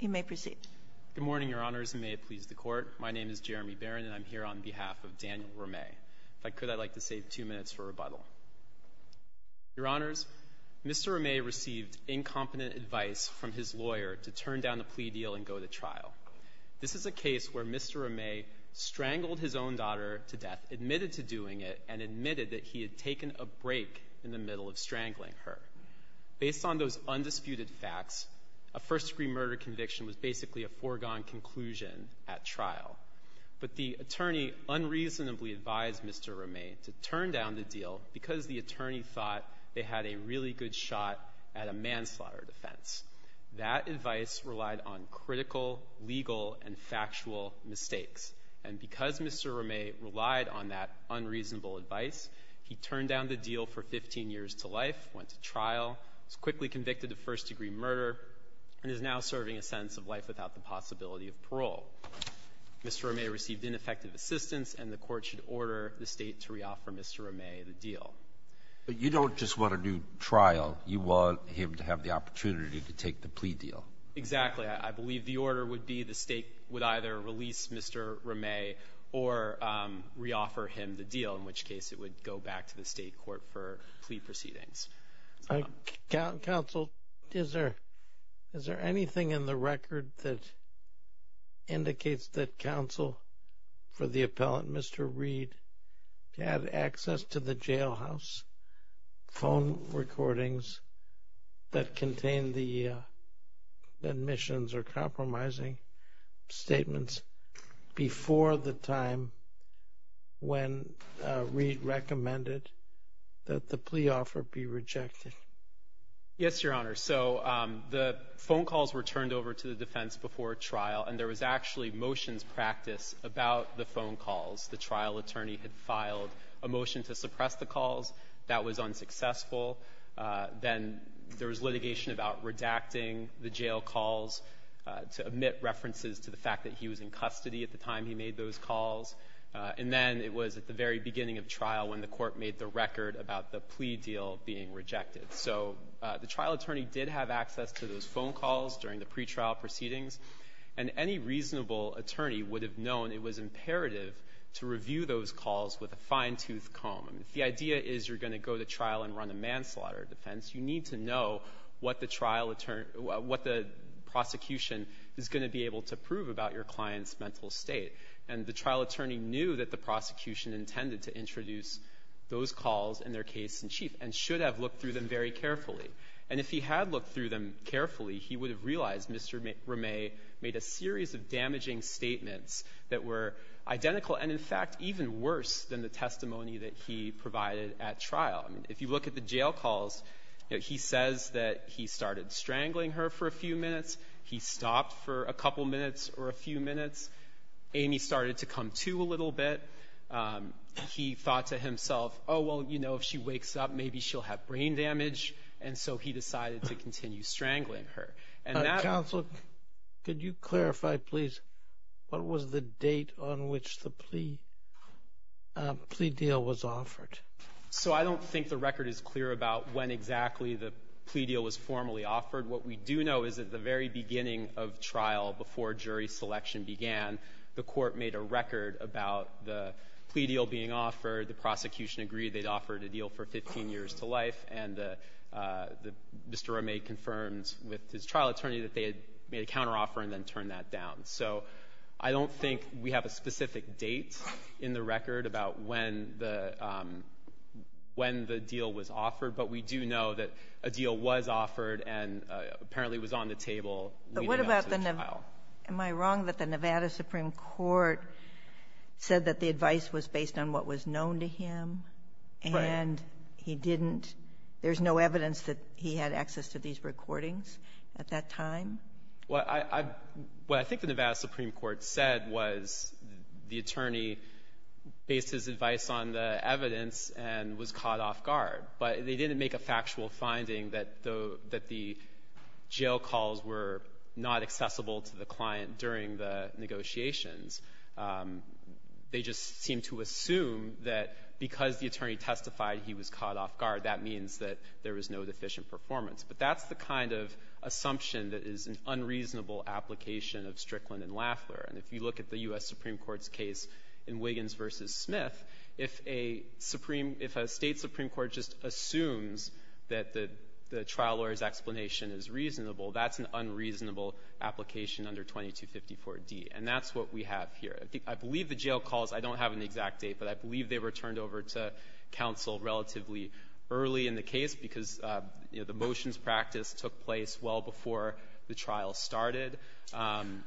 Good morning, Your Honors, and may it please the Court. My name is Jeremy Barron, and I'm here on behalf of Daniel Ramet. If I could, I'd like to save two minutes for rebuttal. Your Honors, Mr. Ramet received incompetent advice from his lawyer to turn down the plea deal and go to trial. This is a case where Mr. Ramet strangled his own daughter to death, admitted to doing it, and admitted that he had taken a break in the middle of strangling her. Based on those undisputed facts, a first-degree murder conviction was basically a foregone conclusion at trial. But the attorney unreasonably advised Mr. Ramet to turn down the deal because the attorney thought they had a really good shot at a manslaughter defense. That advice relied on critical, legal, and factual mistakes. And because Mr. Ramet relied on that unreasonable advice, he turned down the deal for 15 years to life, went to trial, was quickly convicted of first-degree murder, and is now serving a sentence of life without the possibility of parole. Mr. Ramet received ineffective assistance, and the Court should order the State to reoffer Mr. Ramet the deal. But you don't just want a new trial. You want him to have the opportunity to take the plea deal. Exactly. I believe the order would be the State would either release Mr. Ramet or reoffer him the deal, in which case it would go back to the State court for plea proceedings. Counsel, is there anything in the record that indicates that counsel for the appellant, Mr. Reed, had access to the jailhouse phone recordings that contained the admissions or compromising statements before the time when Reed recommended that the plea offer be rejected? Yes, Your Honor. So the phone calls were turned over to the defense before trial, and there was actually motions practice about the phone calls. The trial attorney had filed a motion to suppress the calls. That was unsuccessful. Then there was litigation about redacting the jail calls to omit references to the fact that he was in custody at the time he made those calls. And then it was at the very beginning of trial when the Court made the record about the plea deal being rejected. So the trial attorney did have access to those phone calls during the pretrial proceedings, and any reasonable attorney would have known it was imperative to review those calls with a fine-toothed comb. If the idea is you're going to go to trial and run a manslaughter defense, you need to know what the trial attorney or what the prosecution is going to be able to prove about your client's mental state. And the trial attorney knew that the prosecution intended to introduce those calls in their case-in-chief and should have looked through them very carefully. And if he had looked through them carefully, he would have realized Mr. Ramey made a series of damaging statements that were identical and, in fact, even worse than the testimony that he provided at trial. I mean, if you look at the jail calls, you know, he says that he started strangling her for a few minutes. He stopped for a couple minutes or a few minutes. Amy started to come to a little bit. He thought to himself, oh, well, you know, if she wakes up, maybe she'll have brain damage. And so he decided to continue strangling her. And that was the case. Sotomayor, could you clarify, please, what was the date on which the plea deal was offered? So I don't think the record is clear about when exactly the plea deal was formally offered. What we do know is at the very beginning of trial, before jury selection began, the Court made a record about the plea deal being offered, the prosecution agreed they'd offered a deal for 15 years to life, and the Mr. Ramey confirmed with his trial attorney that they had made a counteroffer and then turned that down. So I don't think we have a specific date in the record about when the deal was offered, but we do know that a deal was offered and apparently was on the table leading up to the trial. But what about the Nevada? Am I wrong that the Nevada Supreme Court said that the And he didn't. There's no evidence that he had access to these recordings at that time? Well, I've – what I think the Nevada Supreme Court said was the attorney based his advice on the evidence and was caught off-guard. But they didn't make a factual finding that the – that the jail calls were not accessible to the client during the negotiations. They just seemed to assume that because the attorney testified he was caught off-guard, that means that there was no deficient performance. But that's the kind of assumption that is an unreasonable application of Strickland and Lafler. And if you look at the U.S. Supreme Court's case in Wiggins v. Smith, if a Supreme – if a State supreme court just assumes that the – the trial lawyer's explanation is reasonable, that's an unreasonable application under 2254d. And that's what we have here. I believe the jail calls – I don't have an exact date, but I believe they were turned over to counsel relatively early in the case because, you know, the motions practice took place well before the trial started.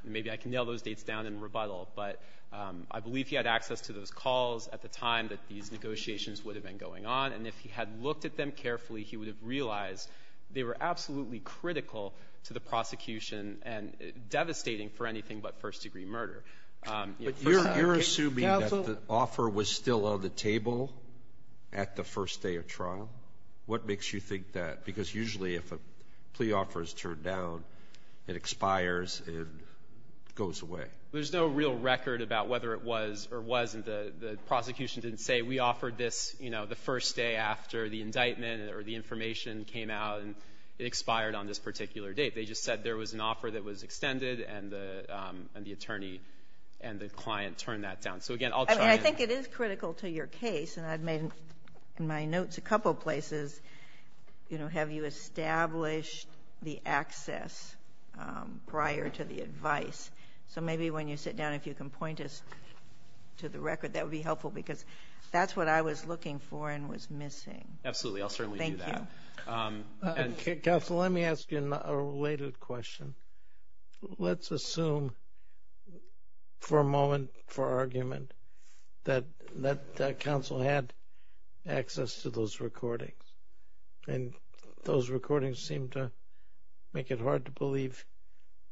Maybe I can nail those dates down in rebuttal. But I believe he had access to those calls at the time that these negotiations would have been going on. And if he had looked at them carefully, he would have realized they were absolutely critical to the prosecution and devastating for anything but first-degree murder. You know, first-degree murder case – But you're assuming that the offer was still on the table at the first day of trial? What makes you think that? Because usually if a plea offer is turned down, it expires, it goes away. There's no real record about whether it was or wasn't. The prosecution didn't say, we offered this, you know, the first day after the indictment or the information came out, and it expired on this particular date. They just said there was an offer that was extended, and the attorney and the client turned that down. So, again, I'll try and – I mean, I think it is critical to your case, and I've made in my notes a couple places, you know, have you established the access prior to the advice. So maybe when you sit down, if you can point us to the record, that would be helpful, because that's what I was looking for and was missing. Absolutely. I'll certainly do that. Counsel, let me ask you a related question. Let's assume for a moment, for argument, that counsel had access to those recordings, and those recordings seem to make it hard to believe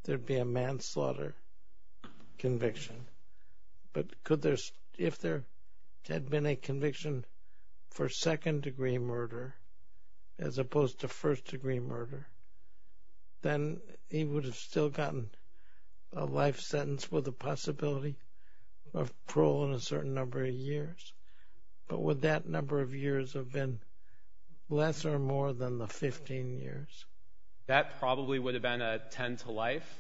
there'd be a manslaughter conviction. But could there – if there had been a conviction for second-degree murder, as opposed to first-degree murder, then he would have still gotten a life sentence with a possibility of parole in a certain number of years. But would that number of years have been less or more than the 15 years? That probably would have been a 10-to-life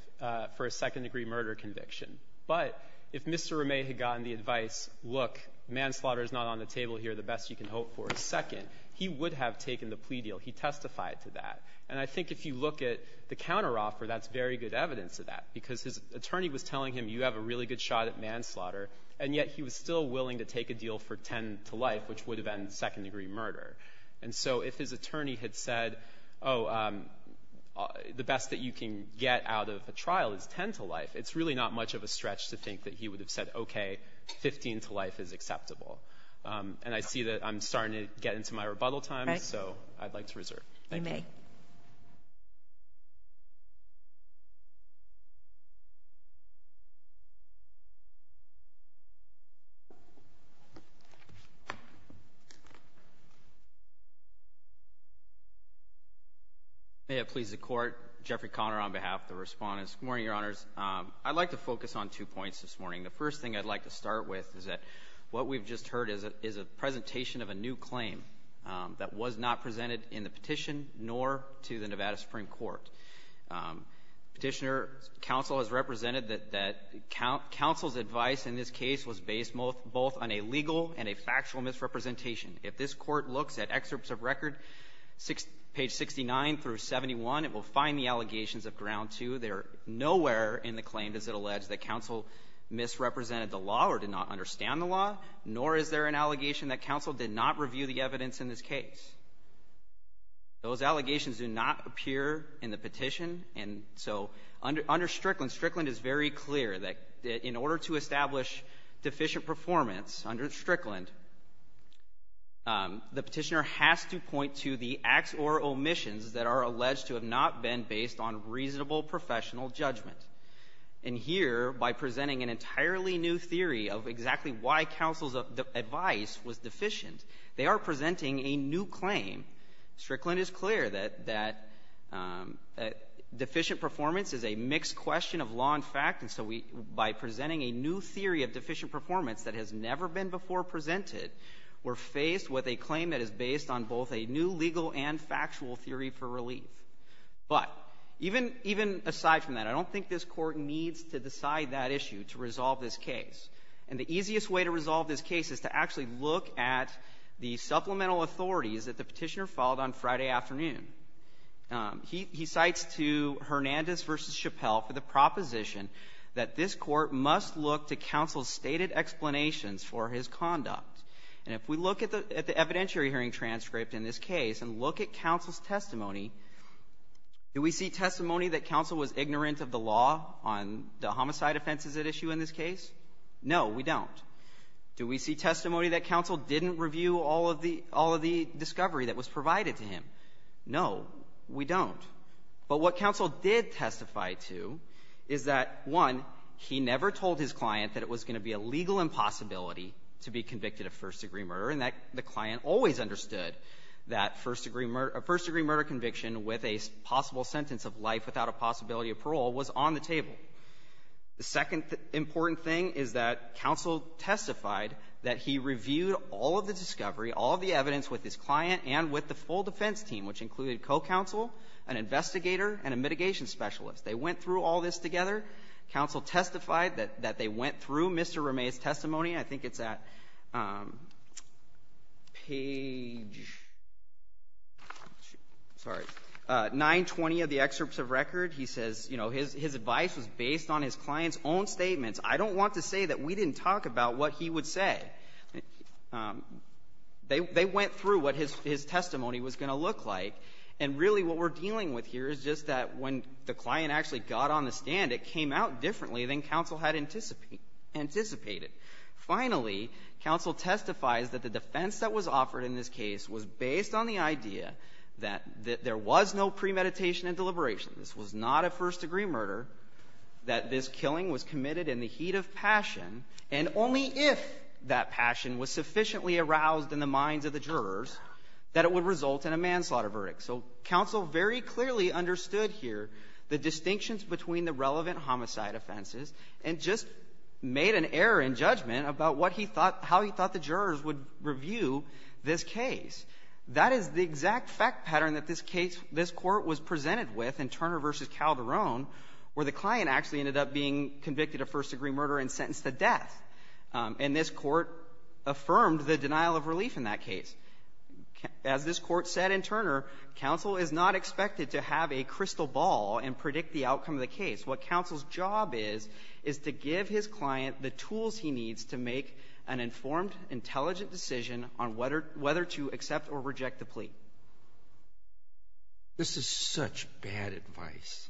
for a second-degree murder conviction. But if Mr. Romet had gotten the advice, look, manslaughter is not on the table here, the best you can hope for is second, he would have taken the plea deal. He testified to that. And I think if you look at the counteroffer, that's very good evidence of that, because his attorney was telling him, you have a really good shot at manslaughter, and yet he was still willing to take a deal for 10-to-life, which would have ended second-degree murder. And so if his attorney had said, oh, the best that you can get out of a trial is 10-to-life, it's really not much of a stretch to think that he would have said, okay, 15-to-life is acceptable. And I see that I'm starting to get into my rebuttal time, so I'd like to reserve. Thank you. Kagan. May it please the Court, Jeffrey Conner on behalf of the Respondents. Good morning, Your Honors. I'd like to focus on two points this morning. The first thing I'd like to start with is that what we've just heard is a presentation of a new claim that was not presented in the petition nor to the Nevada Supreme Court. Petitioner counsel has represented that counsel's advice in this case was based both on a legal and a factual misrepresentation. If this Court looks at excerpts of record, page 69 through 71, it will find the allegations of ground two. Nowhere in the claim does it allege that counsel misrepresented the law or did not understand the law, nor is there an allegation that counsel did not review the evidence in this case. Those allegations do not appear in the petition. And so under Strickland, Strickland is very clear that in order to establish deficient performance under Strickland, the petitioner has to point to the acts or omissions that are alleged to have not been based on reasonable professional judgment. And here, by presenting an entirely new theory of exactly why counsel's advice was deficient, they are presenting a new claim. Strickland is clear that deficient performance is a mixed question of law and fact, and so by presenting a new theory of deficient performance that has never been before presented, we're faced with a claim that is based on both a new legal and factual theory for relief. But even aside from that, I don't think this Court needs to decide that issue to resolve this case. And the easiest way to resolve this case is to actually look at the supplemental authorities that the petitioner filed on Friday afternoon. He cites to Hernandez v. Chappelle for the proposition that this Court must look to counsel's stated explanations for his conduct. And if we look at the evidentiary hearing transcript in this case and look at counsel's testimony, do we see testimony that counsel was ignorant of the law on the homicide offenses at issue in this case? No, we don't. Do we see testimony that counsel didn't review all of the discovery that was provided to him? No, we don't. But what counsel did testify to is that, one, he never told his client that it was going to be a legal impossibility to be convicted of first-degree murder, and that the client always understood that first-degree murder conviction with a possible sentence of life without a possibility of parole was on the table. The second important thing is that counsel testified that he reviewed all of the discovery, all of the evidence with his client and with the full defense team, which included co-counsel, an investigator, and a mitigation specialist. They went through all this together. Counsel testified that they went through Mr. Ramey's testimony. I think it's at page 920 of the excerpts of record. He says, you know, his advice was based on his client's own statements. I don't want to say that we didn't talk about what he would say. They went through what his testimony was going to look like. And really what we're dealing with here is just that when the client actually got on the stand, it came out differently than counsel had anticipated. Finally, counsel testifies that the defense that was offered in this case was based on the idea that there was no premeditation and deliberation. This was not a first-degree murder, that this killing was committed in the heat of passion, and only if that passion was sufficiently aroused in the minds of the jurors that it would result in a manslaughter verdict. So counsel very clearly understood here the distinctions between the relevant homicide offenses and just made an error in judgment about what he thought — how he thought the jurors would review this case. That is the exact fact pattern that this case — this Court was presented with in Turner v. Calderon, where the client actually ended up being convicted of first-degree murder and sentenced to death. And this Court affirmed the denial of relief in that case. As this Court said in Turner, counsel is not expected to have a crystal ball and predict the outcome of the case. What counsel's job is, is to give his client the tools he needs to make an informed, intelligent decision on whether — whether to accept or reject the plea. Alito This is such bad advice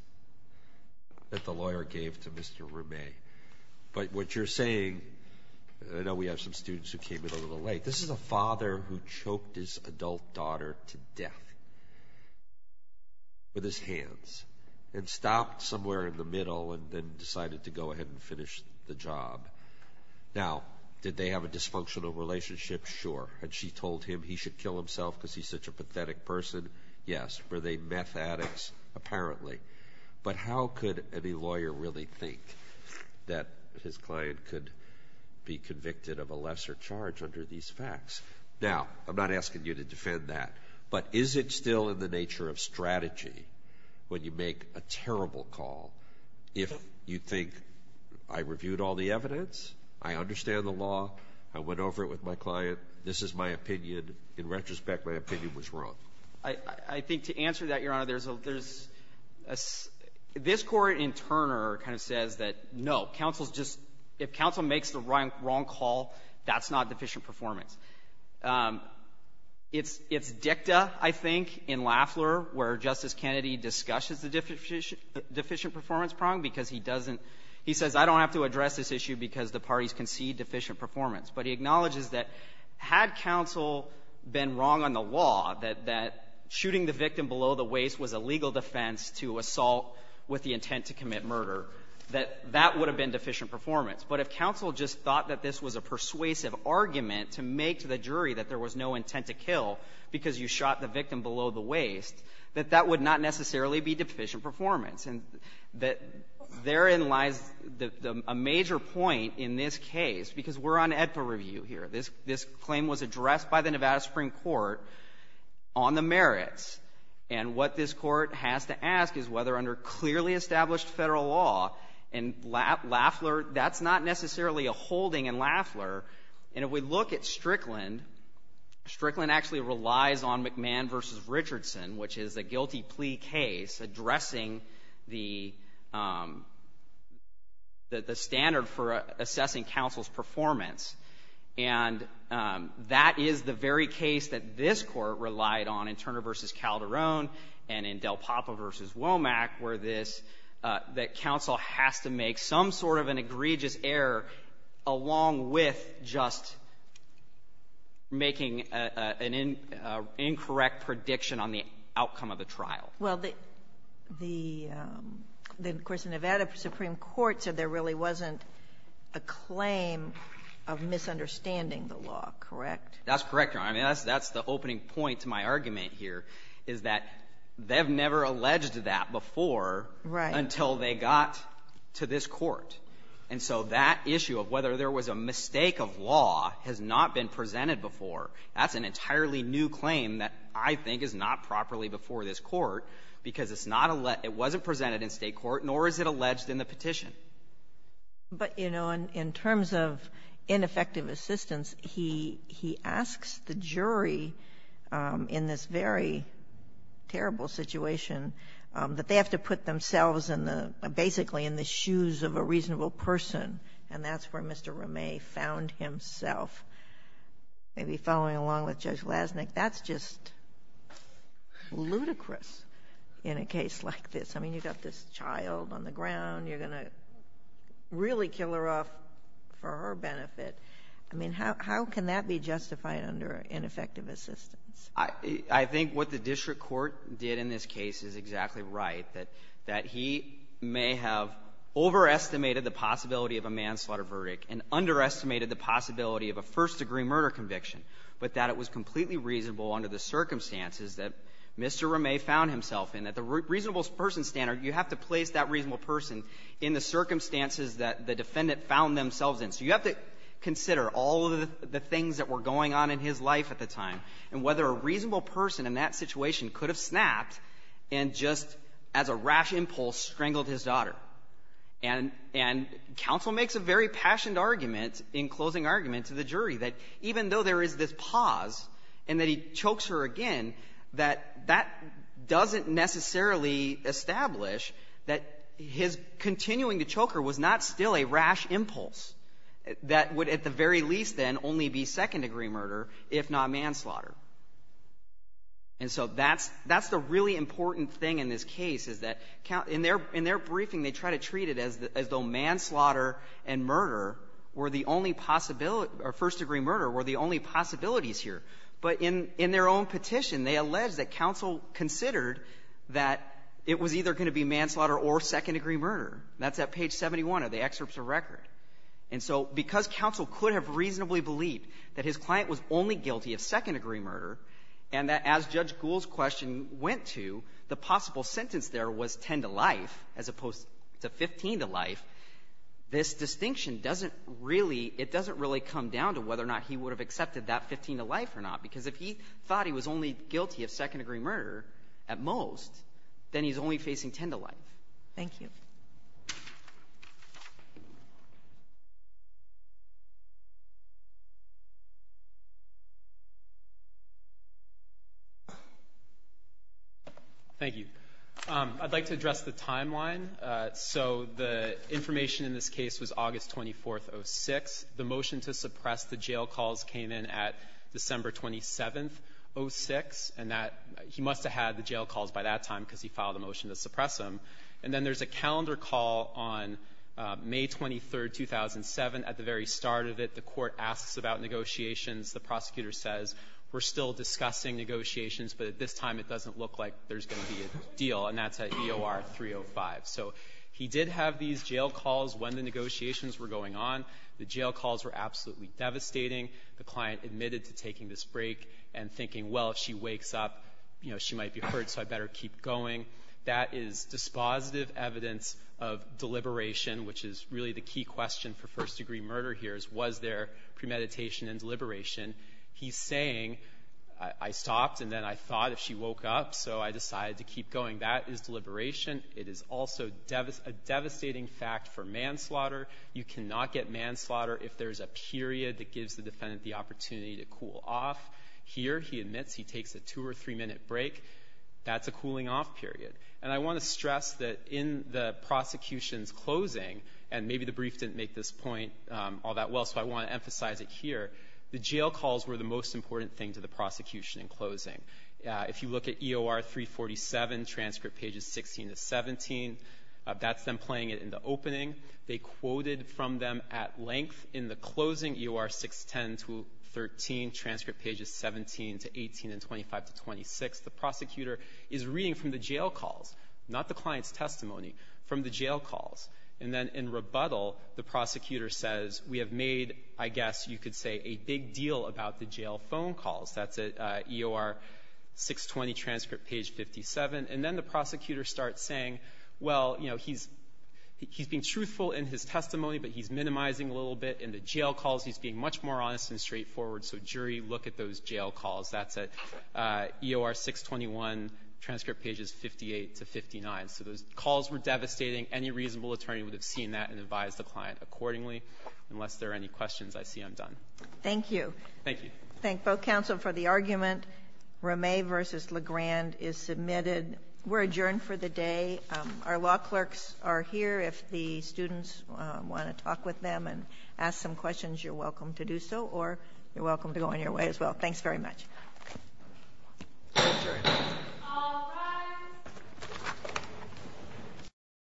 that the lawyer gave to Mr. Rumey. But what you're saying — I know we have some students who came in a little late. This is a father who choked his adult daughter to death with his hands and stopped somewhere in the middle and then decided to go ahead and finish the job. Now, did they have a dysfunctional relationship? Sure. Had she told him he should kill himself because he's such a pathetic person? Yes. Were they meth addicts? Apparently. But how could any lawyer really think that his client could be convicted of a lesser charge under these facts? Now, I'm not asking you to defend that, but is it still in the nature of strategy when you make a terrible call if you think, I reviewed all the evidence, I understand the law, I went over it with my client, this is my opinion, in retrospect my opinion was wrong? I think to answer that, Your Honor, there's a — this Court in Turner kind of says that, no, counsel's just — if counsel makes the wrong call, that's not deficient performance. It's — it's dicta, I think, in Lafleur, where Justice Kennedy discusses the deficient performance prong because he doesn't — he says, I don't have to address this issue because the parties concede deficient performance. But he acknowledges that had counsel been wrong on the law, that shooting the victim below the waist was a legal defense to assault with the intent to commit murder, that that would have been deficient performance. But if counsel just thought that this was a persuasive argument to make to the jury that there was no intent to kill because you shot the victim below the waist, that that would not necessarily be deficient performance. And that — therein lies the — a major point in this case, because we're on AEDPA review here. This — this claim was addressed by the Nevada Supreme Court on the merits. And what this Court has to ask is whether under clearly established Federal law in Lafleur — that's not necessarily a holding in Lafleur. And if we look at Strickland, Strickland actually relies on McMahon v. Richardson, which is a guilty plea case addressing the — the standard for assessing counsel's performance. And that is the very case that this Court relied on in Turner v. Calderon and in Del Papa v. Womack, where this — that counsel has to make some sort of an egregious error along with just making an incorrect prediction on the outcome of the trial. Well, the — the, of course, Nevada Supreme Court said there really wasn't a claim of misunderstanding the law, correct? That's correct, Your Honor. I mean, that's — that's the opening point to my argument here, is that they've never alleged that before until they got to this Court. And so that issue of whether there was a mistake of law has not been presented before. That's an entirely new claim that I think is not properly before this Court, because it's not — it wasn't presented in State court, nor is it alleged in the petition. But, you know, in terms of ineffective assistance, he — he asks the jury in this very terrible situation that they have to put themselves in the — basically in the shoes of a reasonable person, and that's where Mr. Ramey found himself. Maybe following along with Judge Lasnik, that's just ludicrous in a case like this. I mean, you've got this child on the ground. You're going to really kill her off for her benefit. I mean, how — how can that be justified under ineffective assistance? I — I think what the district court did in this case is exactly right, that — that he may have overestimated the possibility of a manslaughter verdict and underestimated the possibility of a first-degree murder conviction, but that it was completely reasonable under the circumstances that Mr. Ramey found himself in, that the reasonable person standard, you have to place that reasonable person in the circumstances that the defendant found themselves in. So you have to consider all of the things that were going on in his life at the time and whether a reasonable person in that situation could have snapped and just, as a rash impulse, strangled his daughter. And — and counsel makes a very passionate argument in closing argument to the jury that even though there is this pause and that he chokes her again, that that doesn't necessarily establish that his continuing to choke her was not still a rash impulse that would, at the very least, then, only be second-degree murder, if not manslaughter. And so that's — that's the really important thing in this case, is that in their — in their briefing, they try to treat it as though manslaughter and murder were the only possibility — or first-degree murder were the only possibilities here. But in — in their own petition, they allege that counsel considered that it was either going to be manslaughter or second-degree murder. That's at page 71 of the excerpts of record. And so because counsel could have reasonably believed that his client was only guilty of second-degree murder, and that as Judge Gould's question went to, the possible sentence there was 10 to life as opposed to 15 to life, this distinction doesn't really — it doesn't really come down to whether or not he would have accepted that 15 to life or not. Because if he thought he was only guilty of second-degree murder, at most, then he's only facing 10 to life. Thank you. Thank you. I'd like to address the timeline. So the information in this case was August 24th, 2006. The motion to suppress the jail calls came in at December 27th, 2006. And that — he must have had the jail calls by that time because he filed a motion to suppress them. And then there's a calendar call on May 23rd, 2007. At the very start of it, the Court asks about negotiations. The prosecutor says, we're still discussing negotiations, but at this time, it doesn't look like there's going to be a deal. And that's at EOR 305. So he did have these jail calls when the negotiations were going on. The jail calls were absolutely devastating. The client admitted to taking this break and thinking, well, if she wakes up, you know, she might be hurt, so I better keep going. That is dispositive evidence of deliberation, which is really the key question for first-degree murder here is, was there premeditation and deliberation? He's saying, I stopped and then I thought if she woke up, so I decided to keep going. That is deliberation. It is also a devastating fact for manslaughter. You cannot get manslaughter if there's a period that gives the defendant the opportunity to cool off. Here, he admits he takes a two- or three-minute break. That's a cooling-off period. And I want to stress that in the prosecution's closing, and maybe the brief didn't make this point all that well, so I want to emphasize it here, the jail calls were the most important thing to the prosecution in closing. If you look at EOR 347, transcript pages 16 to 17, that's them playing it in the opening. They quoted from them at length in the closing, EOR 610 to 13, transcript pages 17 to 18 and 25 to 26, the prosecutor is reading from the jail calls, not the client's testimony, from the jail calls. And then in rebuttal, the prosecutor says, we have made, I guess you could say, a big deal about the jail phone calls. That's at EOR 620, transcript page 57. And then the prosecutor starts saying, well, you know, he's being truthful in his testimony, but he's minimizing a little bit in the jail calls. He's being much more honest and straightforward. So, jury, look at those jail calls. That's at EOR 621, transcript pages 58 to 59. So those calls were devastating. Any reasonable attorney would have seen that and advised the client accordingly. Unless there are any questions, I see I'm done. Thank you. Thank you. Thank both counsel for the argument. Ramey v. Legrand is submitted. We're adjourned for the day. Our law clerks are here. If the students want to talk with them and ask some questions, you're welcome to do so, or you're welcome to go on your way as well. Thanks very much. All rise.